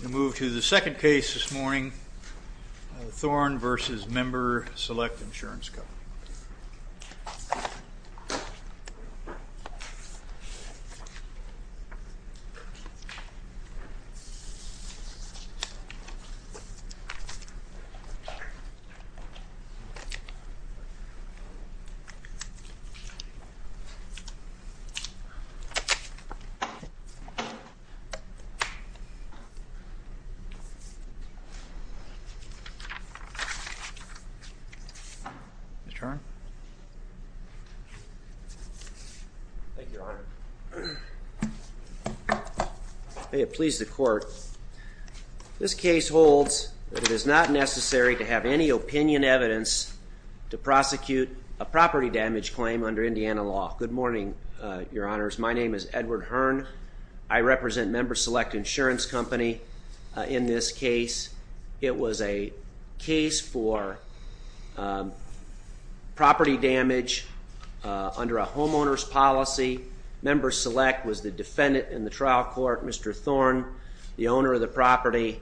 We move to the second case this morning, Thorne v. MemberSelect Insurance Company. Mr. Thorne? Thank you, Your Honor. May it please the Court, this case holds that it is not necessary to have any opinion evidence to prosecute a property damage claim under Indiana law. Good morning, Your Honors. My name is Edward Hearn. I represent MemberSelect Insurance Company in this case. It was a case for property damage under a homeowner's policy. MemberSelect was the defendant in the trial court. Mr. Thorne, the owner of the property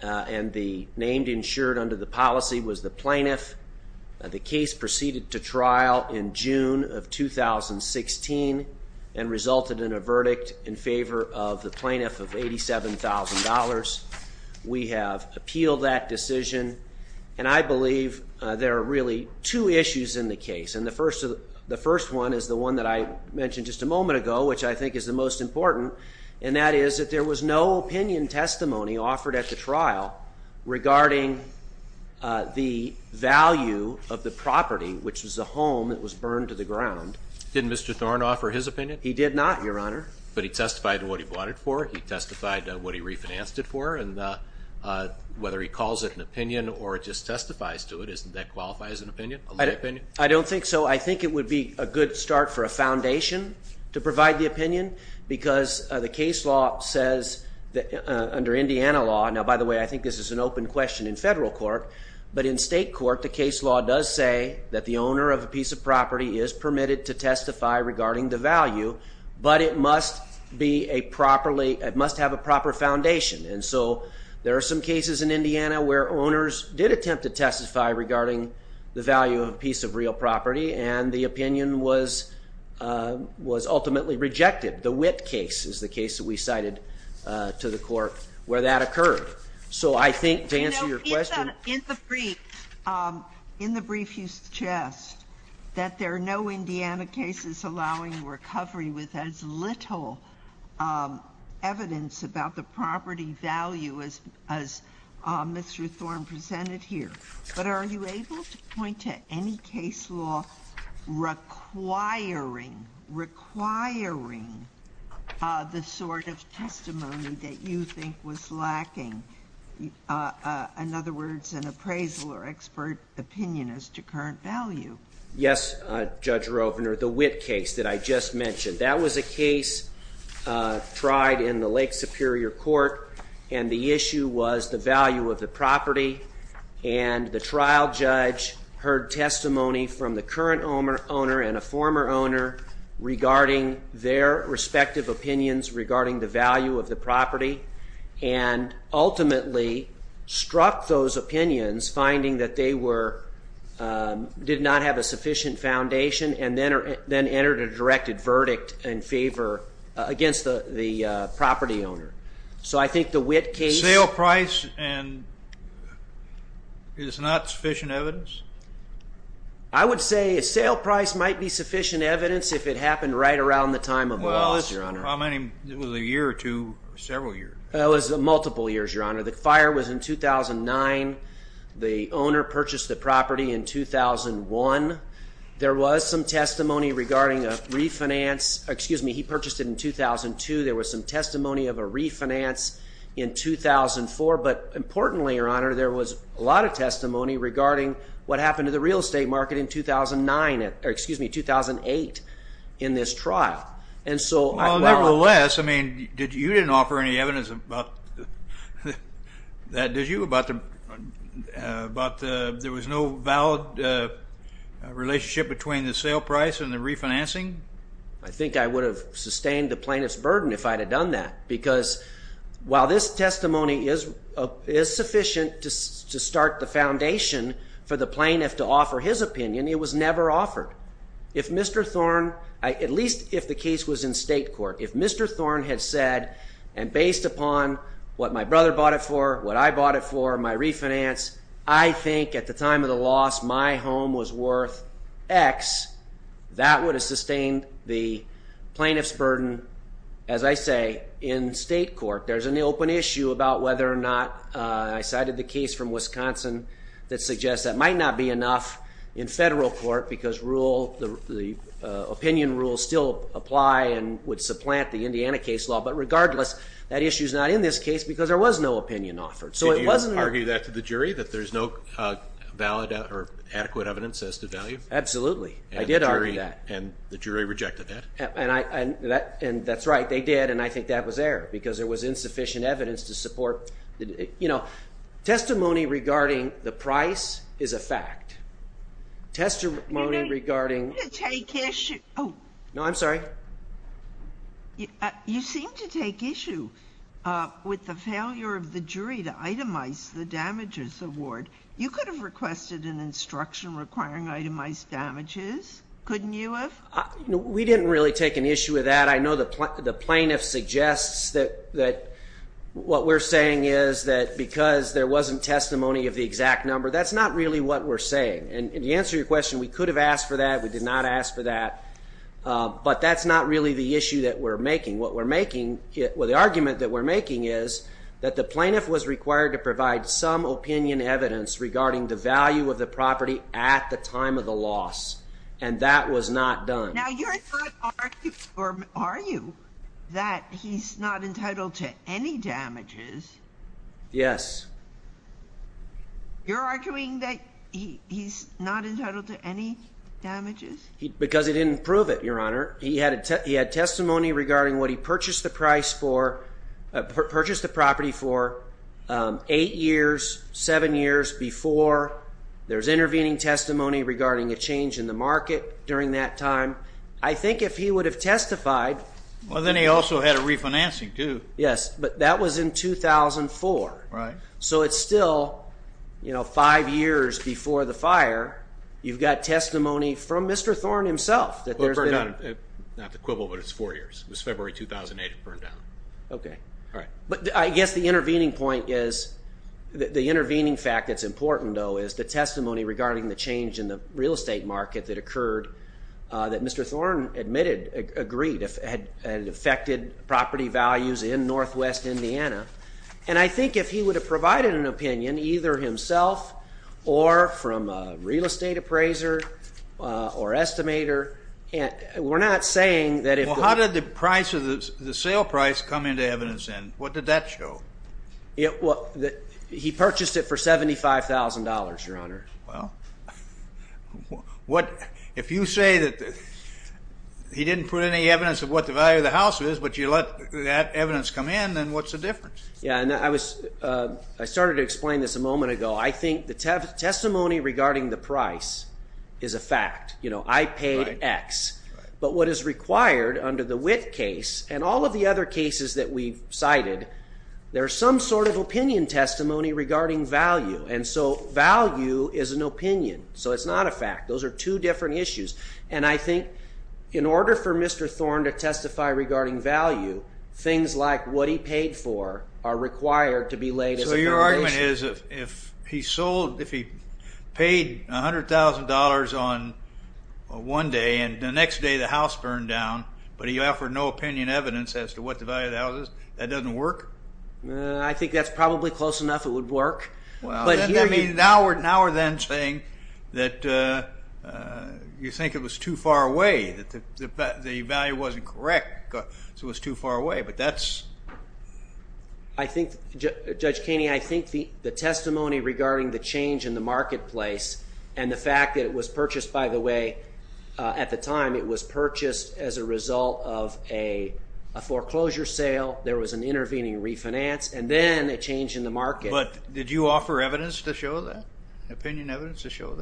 and the named insured under the policy, was the plaintiff. The case proceeded to trial in June of 2016 and resulted in a verdict in favor of the plaintiff of $87,000. We have appealed that decision, and I believe there are really two issues in the case. And the first one is the one that I mentioned just a moment ago, which I think is the most important, and that is that there was no opinion testimony offered at the trial regarding the value of the property, which was the home that was burned to the ground. Did Mr. Thorne offer his opinion? He did not, Your Honor. But he testified to what he bought it for, he testified to what he refinanced it for, and whether he calls it an opinion or just testifies to it, isn't that qualified as an opinion? I don't think so. I think it would be a good start for a foundation to provide the opinion, because the case law says under Indiana law, now, by the way, I think this is an open question in federal court, but in state court the case law does say that the owner of a piece of property is permitted to testify regarding the value, but it must have a proper foundation. And so there are some cases in Indiana where owners did attempt to testify regarding the value of a piece of real property, and the opinion was ultimately rejected. The Witt case is the case that we cited to the court where that occurred. So I think to answer your question. In the brief you suggest that there are no Indiana cases allowing recovery with as little evidence about the property value as Mr. Thorne presented here. But are you able to point to any case law requiring, requiring the sort of testimony that you think was lacking? In other words, an appraisal or expert opinion as to current value. Yes, Judge Rovner. The Witt case that I just mentioned, that was a case tried in the Lake Superior court, and the issue was the value of the property, and the trial judge heard testimony from the current owner and a former owner regarding their respective opinions regarding the value of the property, and ultimately struck those opinions, finding that they were, did not have a sufficient foundation, and then entered a directed verdict in favor, against the property owner. So I think the Witt case. Sale price and is not sufficient evidence? I would say a sale price might be sufficient evidence if it happened right around the time of the loss, Your Honor. Well, this was a year or two, several years. It was multiple years, Your Honor. The fire was in 2009. The owner purchased the property in 2001. There was some testimony regarding a refinance, excuse me, he purchased it in 2002. There was some testimony of a refinance in 2004, but importantly, Your Honor, there was a lot of testimony regarding what happened to the real estate market in 2009, or excuse me, 2008, in this trial. Well, nevertheless, I mean, you didn't offer any evidence about that, did you, about there was no valid relationship between the sale price and the refinancing? I think I would have sustained the plaintiff's burden if I had done that, because while this testimony is sufficient to start the foundation for the plaintiff to offer his opinion, it was never offered. If Mr. Thorne, at least if the case was in state court, if Mr. Thorne had said, and based upon what my brother bought it for, what I bought it for, my refinance, I think at the time of the loss my home was worth X, that would have sustained the plaintiff's burden, as I say, in state court. There's an open issue about whether or not I cited the case from Wisconsin that suggests that might not be enough in federal court because the opinion rules still apply and would supplant the Indiana case law. But regardless, that issue is not in this case because there was no opinion offered. Did you argue that to the jury, that there's no valid or adequate evidence as to value? Absolutely. I did argue that. And the jury rejected that? And that's right. They did, and I think that was there because there was insufficient evidence to support. You know, testimony regarding the price is a fact. Testimony regarding... You seem to take issue... No, I'm sorry. Itemize the damages award. You could have requested an instruction requiring itemized damages, couldn't you have? We didn't really take an issue with that. I know the plaintiff suggests that what we're saying is that because there wasn't testimony of the exact number, that's not really what we're saying. And to answer your question, we could have asked for that, we did not ask for that, but that's not really the issue that we're making. The argument that we're making is that the plaintiff was required to provide some opinion evidence regarding the value of the property at the time of the loss, and that was not done. Now you're not arguing that he's not entitled to any damages. Yes. You're arguing that he's not entitled to any damages? Because he didn't prove it, Your Honor. He had testimony regarding what he purchased the property for eight years, seven years before. There was intervening testimony regarding a change in the market during that time. I think if he would have testified. Well, then he also had a refinancing, too. Yes, but that was in 2004. So it's still five years before the fire. You've got testimony from Mr. Thorne himself. Not the quibble, but it's four years. It was February 2008 it burned down. Okay. All right. But I guess the intervening point is, the intervening fact that's important, though, is the testimony regarding the change in the real estate market that occurred, that Mr. Thorne admitted, agreed, had affected property values in northwest Indiana. And I think if he would have provided an opinion, either himself or from a real estate appraiser or estimator, we're not saying that if the. Well, how did the sale price come into evidence then? What did that show? He purchased it for $75,000, Your Honor. Well, if you say that he didn't put any evidence of what the value of the house is, but you let that evidence come in, then what's the difference? Yeah, and I started to explain this a moment ago. I think the testimony regarding the price is a fact. You know, I paid X. But what is required under the Witt case and all of the other cases that we've cited, there's some sort of opinion testimony regarding value. And so value is an opinion. So it's not a fact. Those are two different issues. And I think in order for Mr. Thorne to testify regarding value, things like what he paid for are required to be laid as a foundation. So your argument is if he sold, if he paid $100,000 on one day and the next day the house burned down, but he offered no opinion evidence as to what the value of the house is, that doesn't work? I think that's probably close enough it would work. Well, now we're then saying that you think it was too far away, that the value wasn't correct, so it was too far away. But that's ‑‑ I think, Judge Keeney, I think the testimony regarding the change in the marketplace and the fact that it was purchased, by the way, at the time, it was purchased as a result of a foreclosure sale. There was an intervening refinance. And then a change in the market. But did you offer evidence to show that? Opinion evidence to show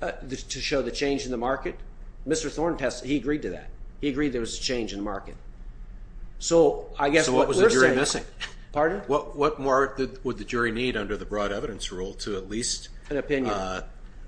that? To show the change in the market? Mr. Thorne, he agreed to that. He agreed there was a change in the market. So I guess what we're saying is ‑‑ So what was the jury missing? Pardon? What more would the jury need under the broad evidence rule to at least ‑‑ An opinion.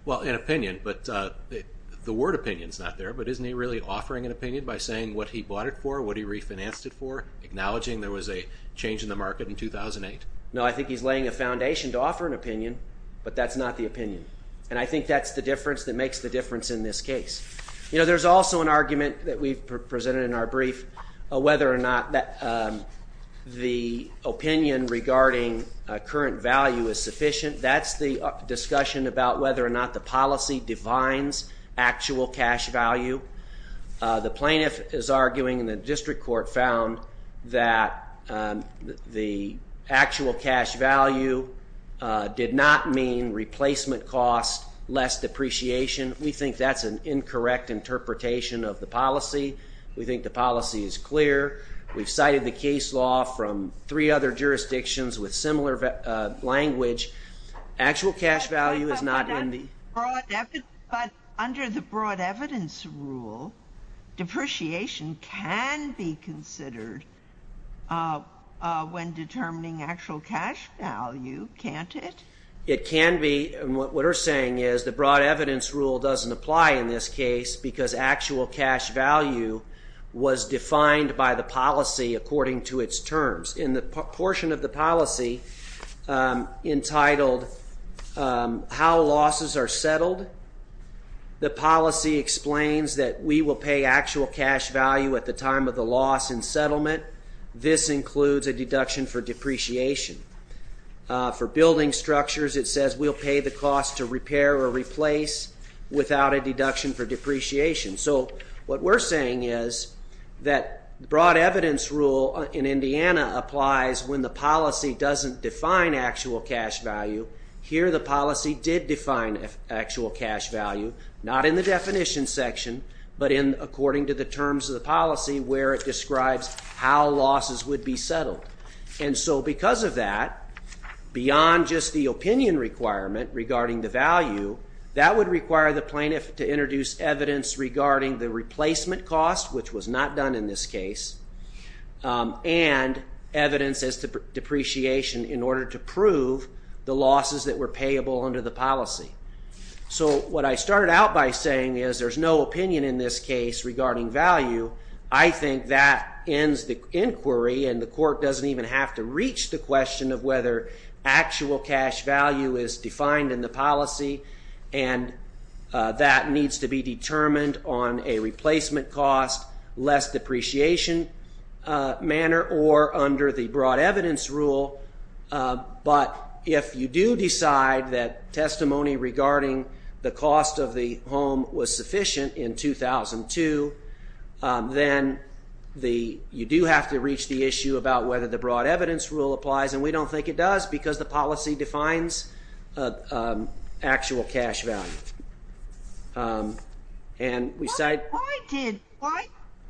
Well, an opinion, but the word opinion is not there, but isn't he really offering an opinion by saying what he bought it for, what he refinanced it for, acknowledging there was a change in the market in 2008? No, I think he's laying a foundation to offer an opinion, but that's not the opinion. And I think that's the difference that makes the difference in this case. You know, there's also an argument that we've presented in our brief, whether or not the opinion regarding current value is sufficient. That's the discussion about whether or not the policy defines actual cash value. The plaintiff is arguing, and the district court found, that the actual cash value did not mean replacement cost, less depreciation. We think that's an incorrect interpretation of the policy. We think the policy is clear. We've cited the case law from three other jurisdictions with similar language. Actual cash value is not in the ‑‑ But under the broad evidence rule, depreciation can be considered when determining actual cash value, can't it? It can be. What we're saying is the broad evidence rule doesn't apply in this case because actual cash value was defined by the policy according to its terms. In the portion of the policy entitled how losses are settled, the policy explains that we will pay actual cash value at the time of the loss and settlement. This includes a deduction for depreciation. For building structures, it says we'll pay the cost to repair or replace without a deduction for depreciation. So what we're saying is that broad evidence rule in Indiana applies when the policy doesn't define actual cash value. Here the policy did define actual cash value, not in the definition section but according to the terms of the policy where it describes how losses would be settled. And so because of that, beyond just the opinion requirement regarding the value, that would require the plaintiff to introduce evidence regarding the replacement cost, which was not done in this case, and evidence as to depreciation in order to prove the losses that were payable under the policy. So what I started out by saying is there's no opinion in this case regarding value. I think that ends the inquiry and the court doesn't even have to reach the question of whether actual cash value is defined in the policy and that needs to be determined on a replacement cost, less depreciation manner, or under the broad evidence rule. But if you do decide that testimony regarding the cost of the home was sufficient in 2002, then you do have to reach the issue about whether the broad evidence rule applies, and we don't think it does because the policy defines actual cash value. Why did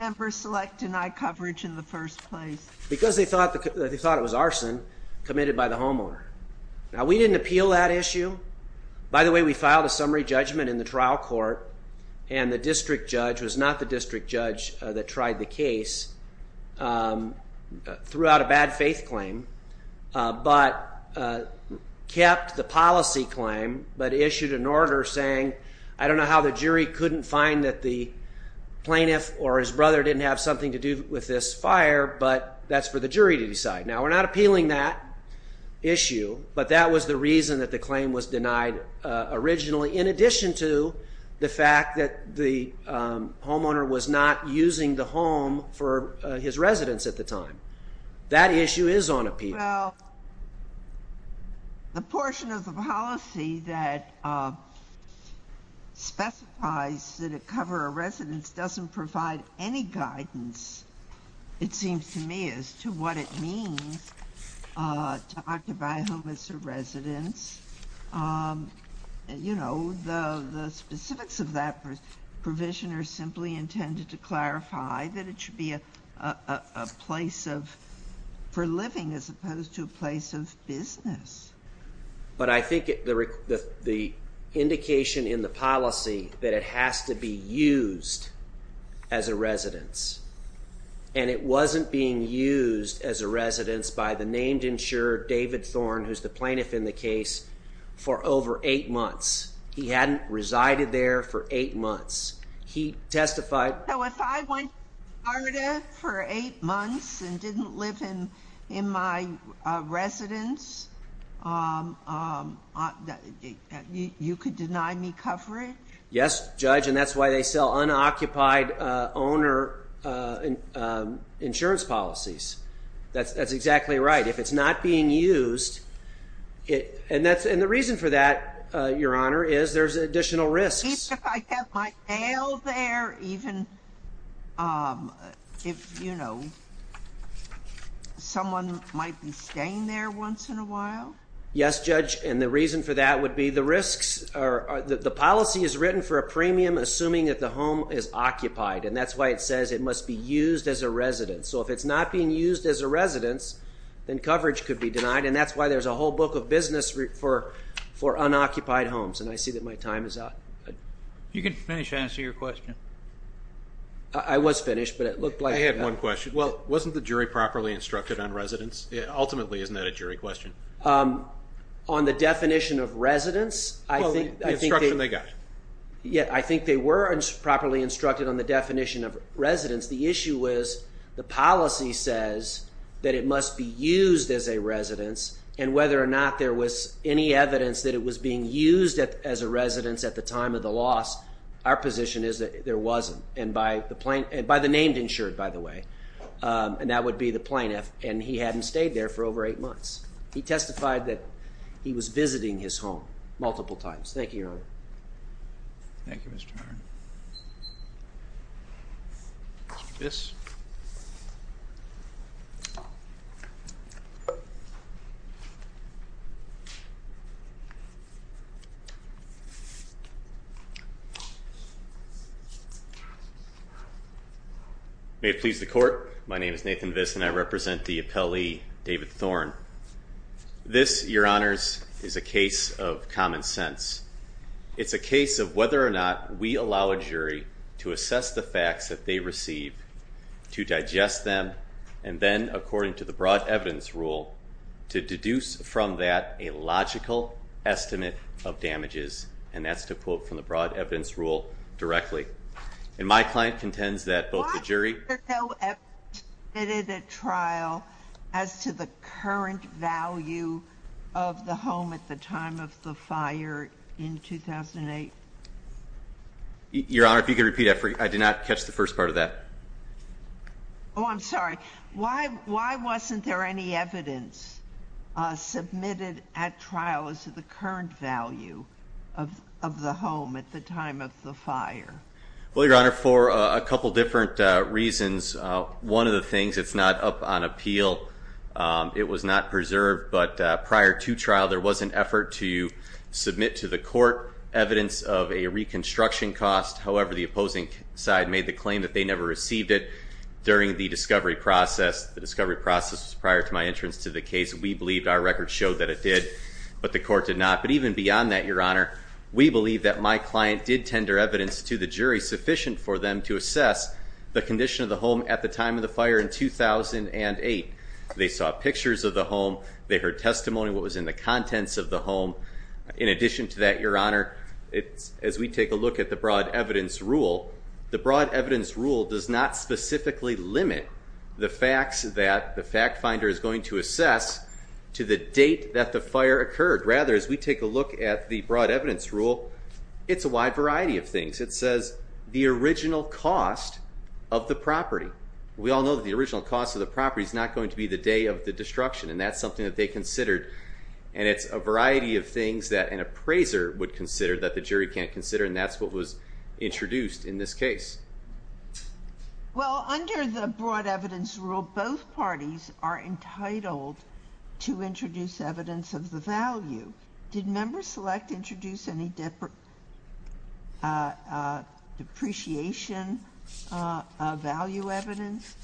members select denied coverage in the first place? Because they thought it was arson committed by the homeowner. Now we didn't appeal that issue. By the way, we filed a summary judgment in the trial court and the district judge was not the district judge that tried the case, threw out a bad faith claim, but kept the policy claim but issued an order saying I don't know how the jury couldn't find that the plaintiff or his brother didn't have something to do with this fire, but that's for the jury to decide. Now we're not appealing that issue, but that was the reason that the claim was denied originally in addition to the fact that the homeowner was not using the home for his residence at the time. That issue is on appeal. Well, the portion of the policy that specifies that it cover a residence doesn't provide any guidance, it seems to me, as to what it means to occupy a home as a residence. You know, the specifics of that provision are simply intended to clarify that it should be a place for living as opposed to a place of business. But I think the indication in the policy that it has to be used as a residence, and it wasn't being used as a residence by the named insurer, David Thorne, who's the plaintiff in the case, for over eight months. He hadn't resided there for eight months. He testified. So if I went to Florida for eight months and didn't live in my residence, you could deny me coverage? Yes, Judge, and that's why they sell unoccupied owner insurance policies. That's exactly right. If it's not being used, and the reason for that, Your Honor, is there's additional risks. Even if I have my mail there? Even if, you know, someone might be staying there once in a while? Yes, Judge, and the reason for that would be the risks. The policy is written for a premium assuming that the home is occupied, and that's why it says it must be used as a residence. So if it's not being used as a residence, then coverage could be denied, and that's why there's a whole book of business for unoccupied homes, and I see that my time is up. You can finish to answer your question. I was finished, but it looked like I had one question. Well, wasn't the jury properly instructed on residence? Ultimately, isn't that a jury question? On the definition of residence, I think they were properly instructed on the definition of residence. The issue was the policy says that it must be used as a residence, and whether or not there was any evidence that it was being used as a residence at the time of the loss, our position is that there wasn't, and by the named insured, by the way, and that would be the plaintiff, and he hadn't stayed there for over eight months. He testified that he was visiting his home multiple times. Thank you, Your Honor. Thank you, Mr. Arnn. Mr. Viss. May it please the Court, my name is Nathan Viss, and I represent the appellee, David Thorne. This, Your Honors, is a case of common sense. It's a case of whether or not we allow a jury to assess the facts that they receive, to digest them, and then, according to the broad evidence rule, to deduce from that a logical estimate of damages, and that's to quote from the broad evidence rule directly. And my client contends that both the jury- Your Honor, if you could repeat, I did not catch the first part of that. Oh, I'm sorry. Why wasn't there any evidence submitted at trial as to the current value of the home at the time of the fire? Well, Your Honor, for a couple different reasons. One of the things, it's not up on appeal. It was not preserved, but prior to trial, there was an effort to submit to the court evidence of a reconstruction cost. However, the opposing side made the claim that they never received it during the discovery process. The discovery process was prior to my entrance to the case. We believed our record showed that it did, but the court did not. But even beyond that, Your Honor, we believe that my client did tender evidence to the jury sufficient for them to assess the condition of the home at the time of the fire in 2008. They saw pictures of the home. They heard testimony, what was in the contents of the home. In addition to that, Your Honor, as we take a look at the broad evidence rule, the broad evidence rule does not specifically limit the facts that the fact finder is going to assess to the date that the fire occurred. Rather, as we take a look at the broad evidence rule, it's a wide variety of things. It says the original cost of the property. We all know that the original cost of the property is not going to be the day of the destruction. And that's something that they considered. And it's a variety of things that an appraiser would consider that the jury can't consider. And that's what was introduced in this case. Well, under the broad evidence rule, both parties are entitled to introduce evidence of the value. Did member select introduce any depreciation value evidence?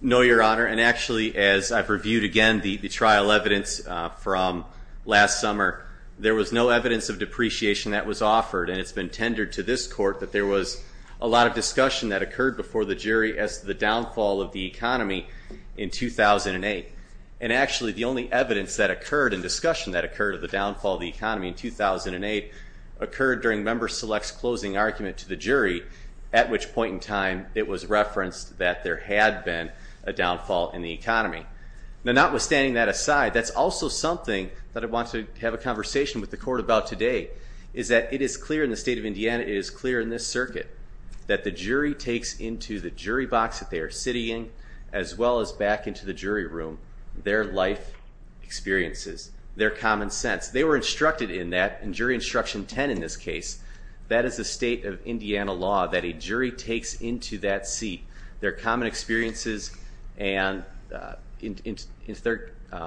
No, Your Honor. And actually, as I've reviewed again the trial evidence from last summer, there was no evidence of depreciation that was offered. And it's been tendered to this court that there was a lot of discussion that occurred before the jury as to the downfall of the economy in 2008. And actually, the only evidence that occurred in discussion that occurred of the downfall of the economy in 2008 occurred during member select's closing argument to the jury, at which point in time it was referenced that there had been a downfall in the economy. Now, notwithstanding that aside, that's also something that I want to have a conversation with the court about today, is that it is clear in the state of Indiana, it is clear in this circuit, that the jury takes into the jury box that they are sitting in, as well as back into the jury room, their life experiences, their common sense. They were instructed in that. In Jury Instruction 10 in this case, that is the state of Indiana law that a jury takes into that seat, their common experiences as they're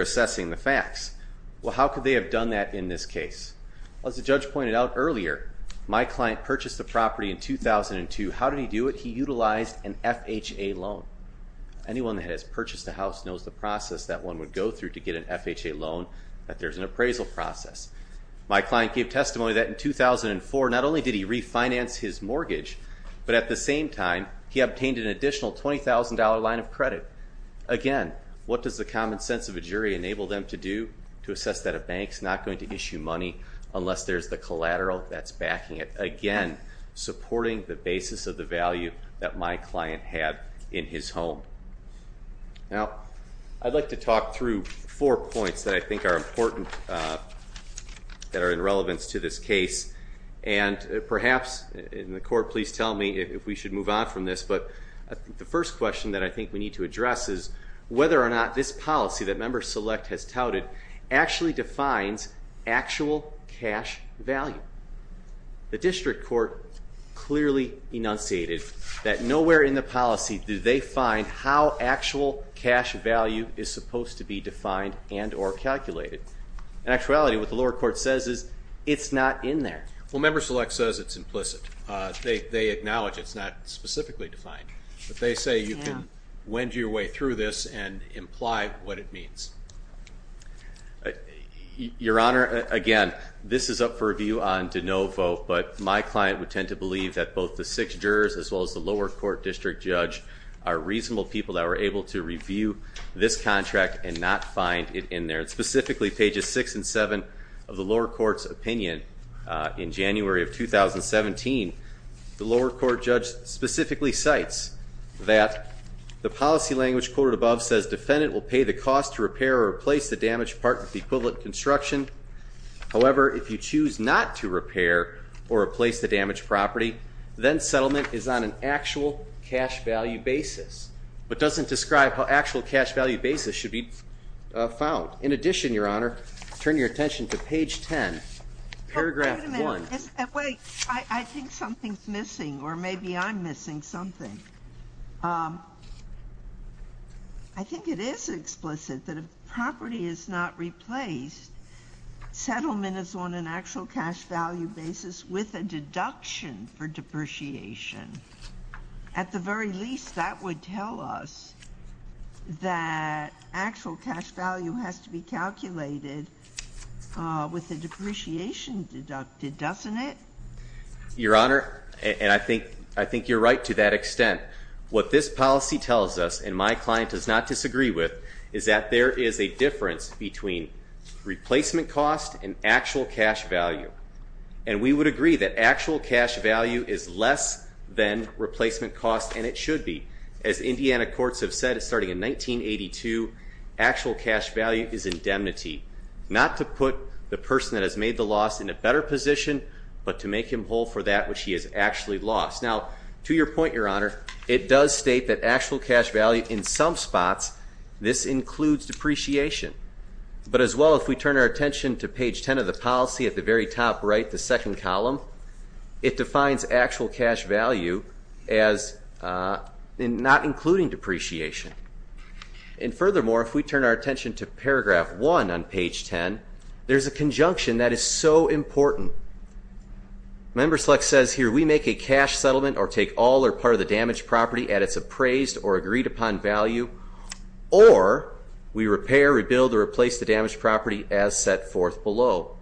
assessing the facts. Well, how could they have done that in this case? As the judge pointed out earlier, my client purchased the property in 2002. How did he do it? He utilized an FHA loan. Anyone that has purchased a house knows the process that one would go through to get an FHA loan, that there's an appraisal process. My client gave testimony that in 2004, not only did he refinance his mortgage, but at the same time he obtained an additional $20,000 line of credit. Again, what does the common sense of a jury enable them to do to assess that a bank's not going to issue money unless there's the collateral that's backing it? Again, supporting the basis of the value that my client had in his home. Now, I'd like to talk through four points that I think are important that are in relevance to this case. And perhaps in the court, please tell me if we should move on from this. But the first question that I think we need to address is whether or not this policy that Member Select has touted actually defines actual cash value. The district court clearly enunciated that nowhere in the policy did they find how actual cash value is supposed to be defined and or calculated. In actuality, what the lower court says is it's not in there. Well, Member Select says it's implicit. They acknowledge it's not specifically defined. But they say you can wend your way through this and imply what it means. Your Honor, again, this is up for review on de novo. But my client would tend to believe that both the six jurors as well as the lower court district judge are reasonable people that were able to review this contract and not find it in there. Specifically, pages 6 and 7 of the lower court's opinion in January of 2017, the lower court judge specifically cites that the policy language quoted above says defendant will pay the cost to repair or replace the damaged part with the equivalent construction. However, if you choose not to repair or replace the damaged property, then settlement is on an actual cash value basis, but doesn't describe how actual cash value basis should be found. In addition, Your Honor, turn your attention to page 10, paragraph 1. Wait a minute. I think something's missing or maybe I'm missing something. I think it is explicit that if property is not replaced, settlement is on an actual cash value basis with a deduction for depreciation. At the very least, that would tell us that actual cash value has to be calculated with a depreciation deducted, doesn't it? Your Honor, and I think you're right to that extent. What this policy tells us, and my client does not disagree with, is that there is a difference between replacement cost and actual cash value. And we would agree that actual cash value is less than replacement cost, and it should be. As Indiana courts have said, starting in 1982, actual cash value is indemnity, not to put the person that has made the loss in a better position, but to make him whole for that which he has actually lost. Now, to your point, Your Honor, it does state that actual cash value in some spots, this includes depreciation. But as well, if we turn our attention to page 10 of the policy, at the very top right, the second column, it defines actual cash value as not including depreciation. And furthermore, if we turn our attention to paragraph 1 on page 10, there's a conjunction that is so important. Member select says here, we make a cash settlement or take all or part of the damaged property at its appraised or agreed upon value, or we repair, rebuild, or replace the damaged property as set forth below.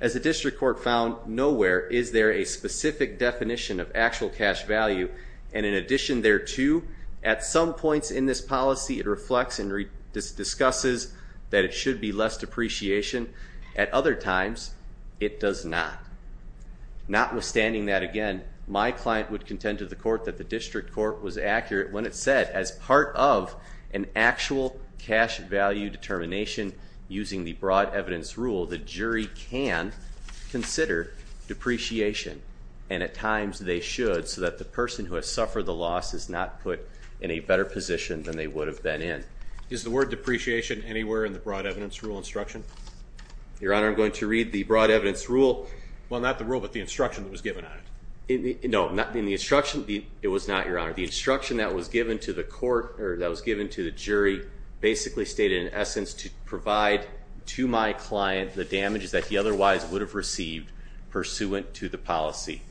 As the district court found nowhere is there a specific definition of actual cash value, and in addition thereto, at some points in this policy, it reflects and discusses that it should be less depreciation. At other times, it does not. Notwithstanding that, again, my client would contend to the court that the district court was accurate when it said as part of an actual cash value determination, using the broad evidence rule, the jury can consider depreciation. And at times, they should, so that the person who has suffered the loss is not put in a better position than they would have been in. Is the word depreciation anywhere in the broad evidence rule instruction? Your Honor, I'm going to read the broad evidence rule. Well, not the rule, but the instruction that was given on it. No, not in the instruction. It was not, Your Honor. The instruction that was given to the court or that was given to the jury basically stated in essence to provide to my client the damages that he otherwise would have received pursuant to the policy.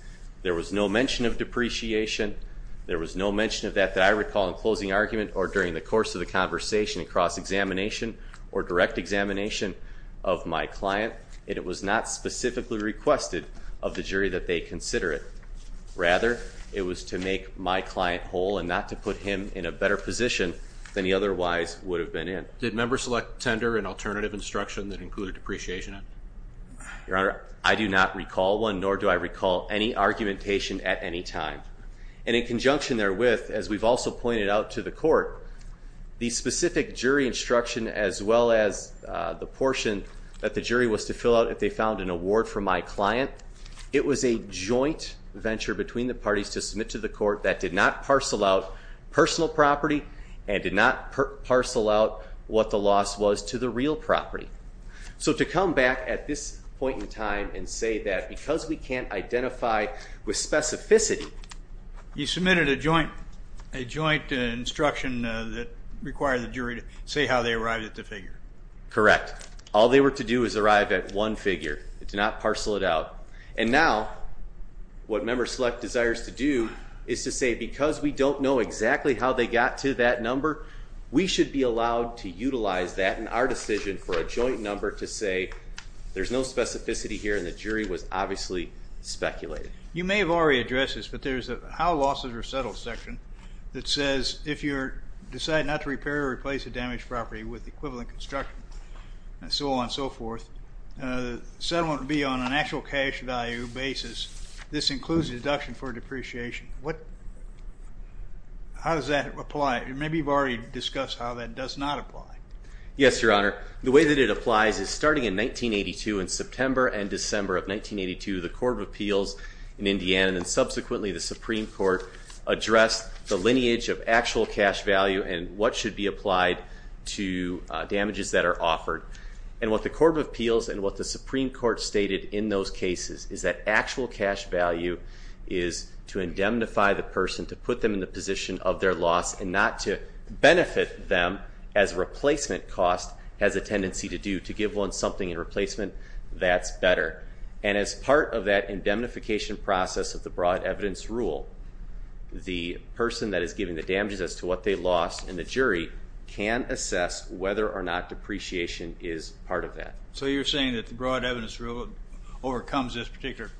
There was no mention of depreciation. There was no mention of that that I recall in closing argument or during the course of the conversation across examination or direct examination of my client, and it was not specifically requested of the jury that they consider it. Rather, it was to make my client whole and not to put him in a better position than he otherwise would have been in. Did members select tender and alternative instruction that included depreciation? Your Honor, I do not recall one, nor do I recall any argumentation at any time. And in conjunction therewith, as we've also pointed out to the court, the specific jury instruction as well as the portion that the jury was to fill out if they found an award for my client, it was a joint venture between the parties to submit to the court that did not parcel out personal property and did not parcel out what the loss was to the real property. So to come back at this point in time and say that because we can't identify with specificity. You submitted a joint instruction that required the jury to say how they arrived at the figure. Correct. All they were to do is arrive at one figure. They did not parcel it out. And now what members select desires to do is to say that because we don't know exactly how they got to that number, we should be allowed to utilize that in our decision for a joint number to say there's no specificity here and the jury was obviously speculating. You may have already addressed this, but there's a how losses are settled section that says if you decide not to repair or replace a damaged property with equivalent construction and so on and so forth, settlement would be on an actual cash value basis. This includes a deduction for depreciation. How does that apply? Maybe you've already discussed how that does not apply. Yes, Your Honor. The way that it applies is starting in 1982 in September and December of 1982, the Court of Appeals in Indiana and subsequently the Supreme Court addressed the lineage of actual cash value and what should be applied to damages that are offered. And what the Court of Appeals and what the Supreme Court stated in those cases is that actual cash value is to indemnify the person, to put them in the position of their loss and not to benefit them as replacement cost has a tendency to do, to give one something in replacement that's better. And as part of that indemnification process of the broad evidence rule, the person that is giving the damages as to what they lost and the jury can assess whether or not depreciation is part of that. So you're saying that the broad evidence rule overcomes this particular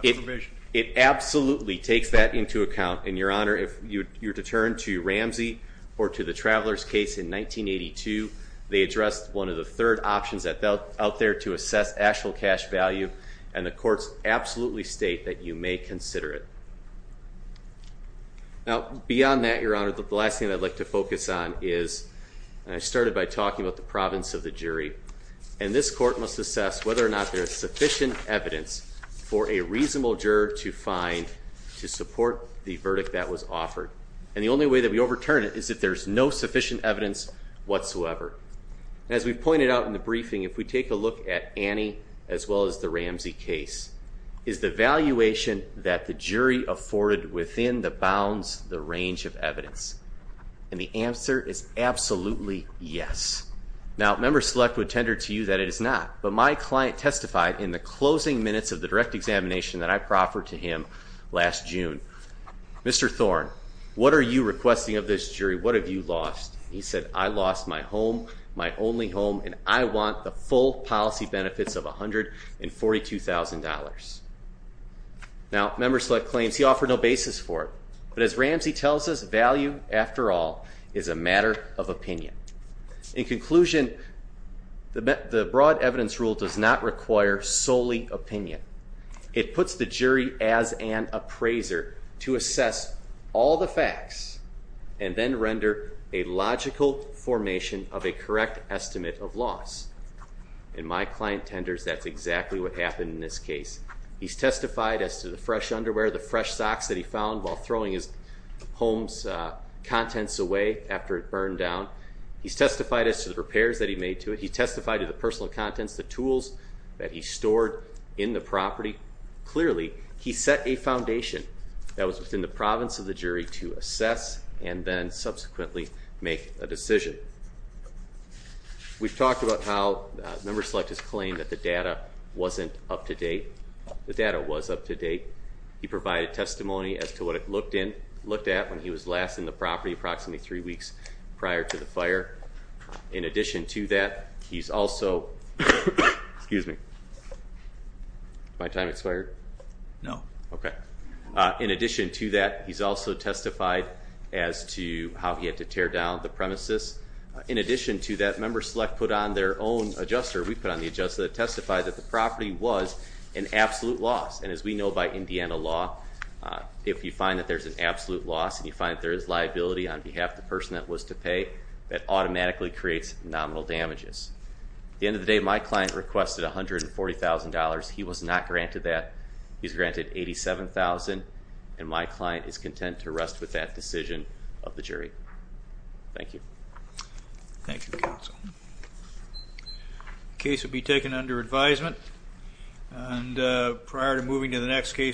provision? It absolutely takes that into account. And, Your Honor, if you're deterred to Ramsey or to the Travelers case in 1982, they addressed one of the third options out there to assess actual cash value and the courts absolutely state that you may consider it. Now, beyond that, Your Honor, the last thing I'd like to focus on is, and I started by talking about the province of the jury, and this court must assess whether or not there is sufficient evidence for a reasonable juror to find to support the verdict that was offered. And the only way that we overturn it is if there's no sufficient evidence whatsoever. As we pointed out in the briefing, if we take a look at Annie as well as the Ramsey case, is the valuation that the jury afforded within the bounds, the range of evidence. And the answer is absolutely yes. Now, Member Select would tender to you that it is not, but my client testified in the closing minutes of the direct examination that I proffered to him last June. Mr. Thorne, what are you requesting of this jury? What have you lost? He said, I lost my home, my only home, and I want the full policy benefits of $142,000. Now, Member Select claims he offered no basis for it, but as Ramsey tells us, value, after all, is a matter of opinion. In conclusion, the broad evidence rule does not require solely opinion. It puts the jury as an appraiser to assess all the facts and then render a logical formation of a correct estimate of loss. In my client tenders, that's exactly what happened in this case. He's testified as to the fresh underwear, the fresh socks that he found while throwing his home's contents away after it burned down. He's testified as to the repairs that he made to it. He testified to the personal contents, the tools that he stored in the property. Clearly, he set a foundation that was within the province of the jury to assess and then subsequently make a decision. We've talked about how Member Select has claimed that the data wasn't up to date. The data was up to date. He provided testimony as to what it looked at when he was last in the property approximately three weeks prior to the fire. In addition to that, he's also testified as to how he had to tear down the premises. In addition to that, Member Select put on their own adjuster. We put on the adjuster that testified that the property was an absolute loss. As we know by Indiana law, if you find that there's an absolute loss and you find that there is liability on behalf of the person that was to pay, that automatically creates nominal damages. At the end of the day, my client requested $140,000. He was not granted that. He's granted $87,000, and my client is content to rest with that decision of the jury. Thank you. Thank you, counsel. The case will be taken under advisement. Prior to moving to the next case.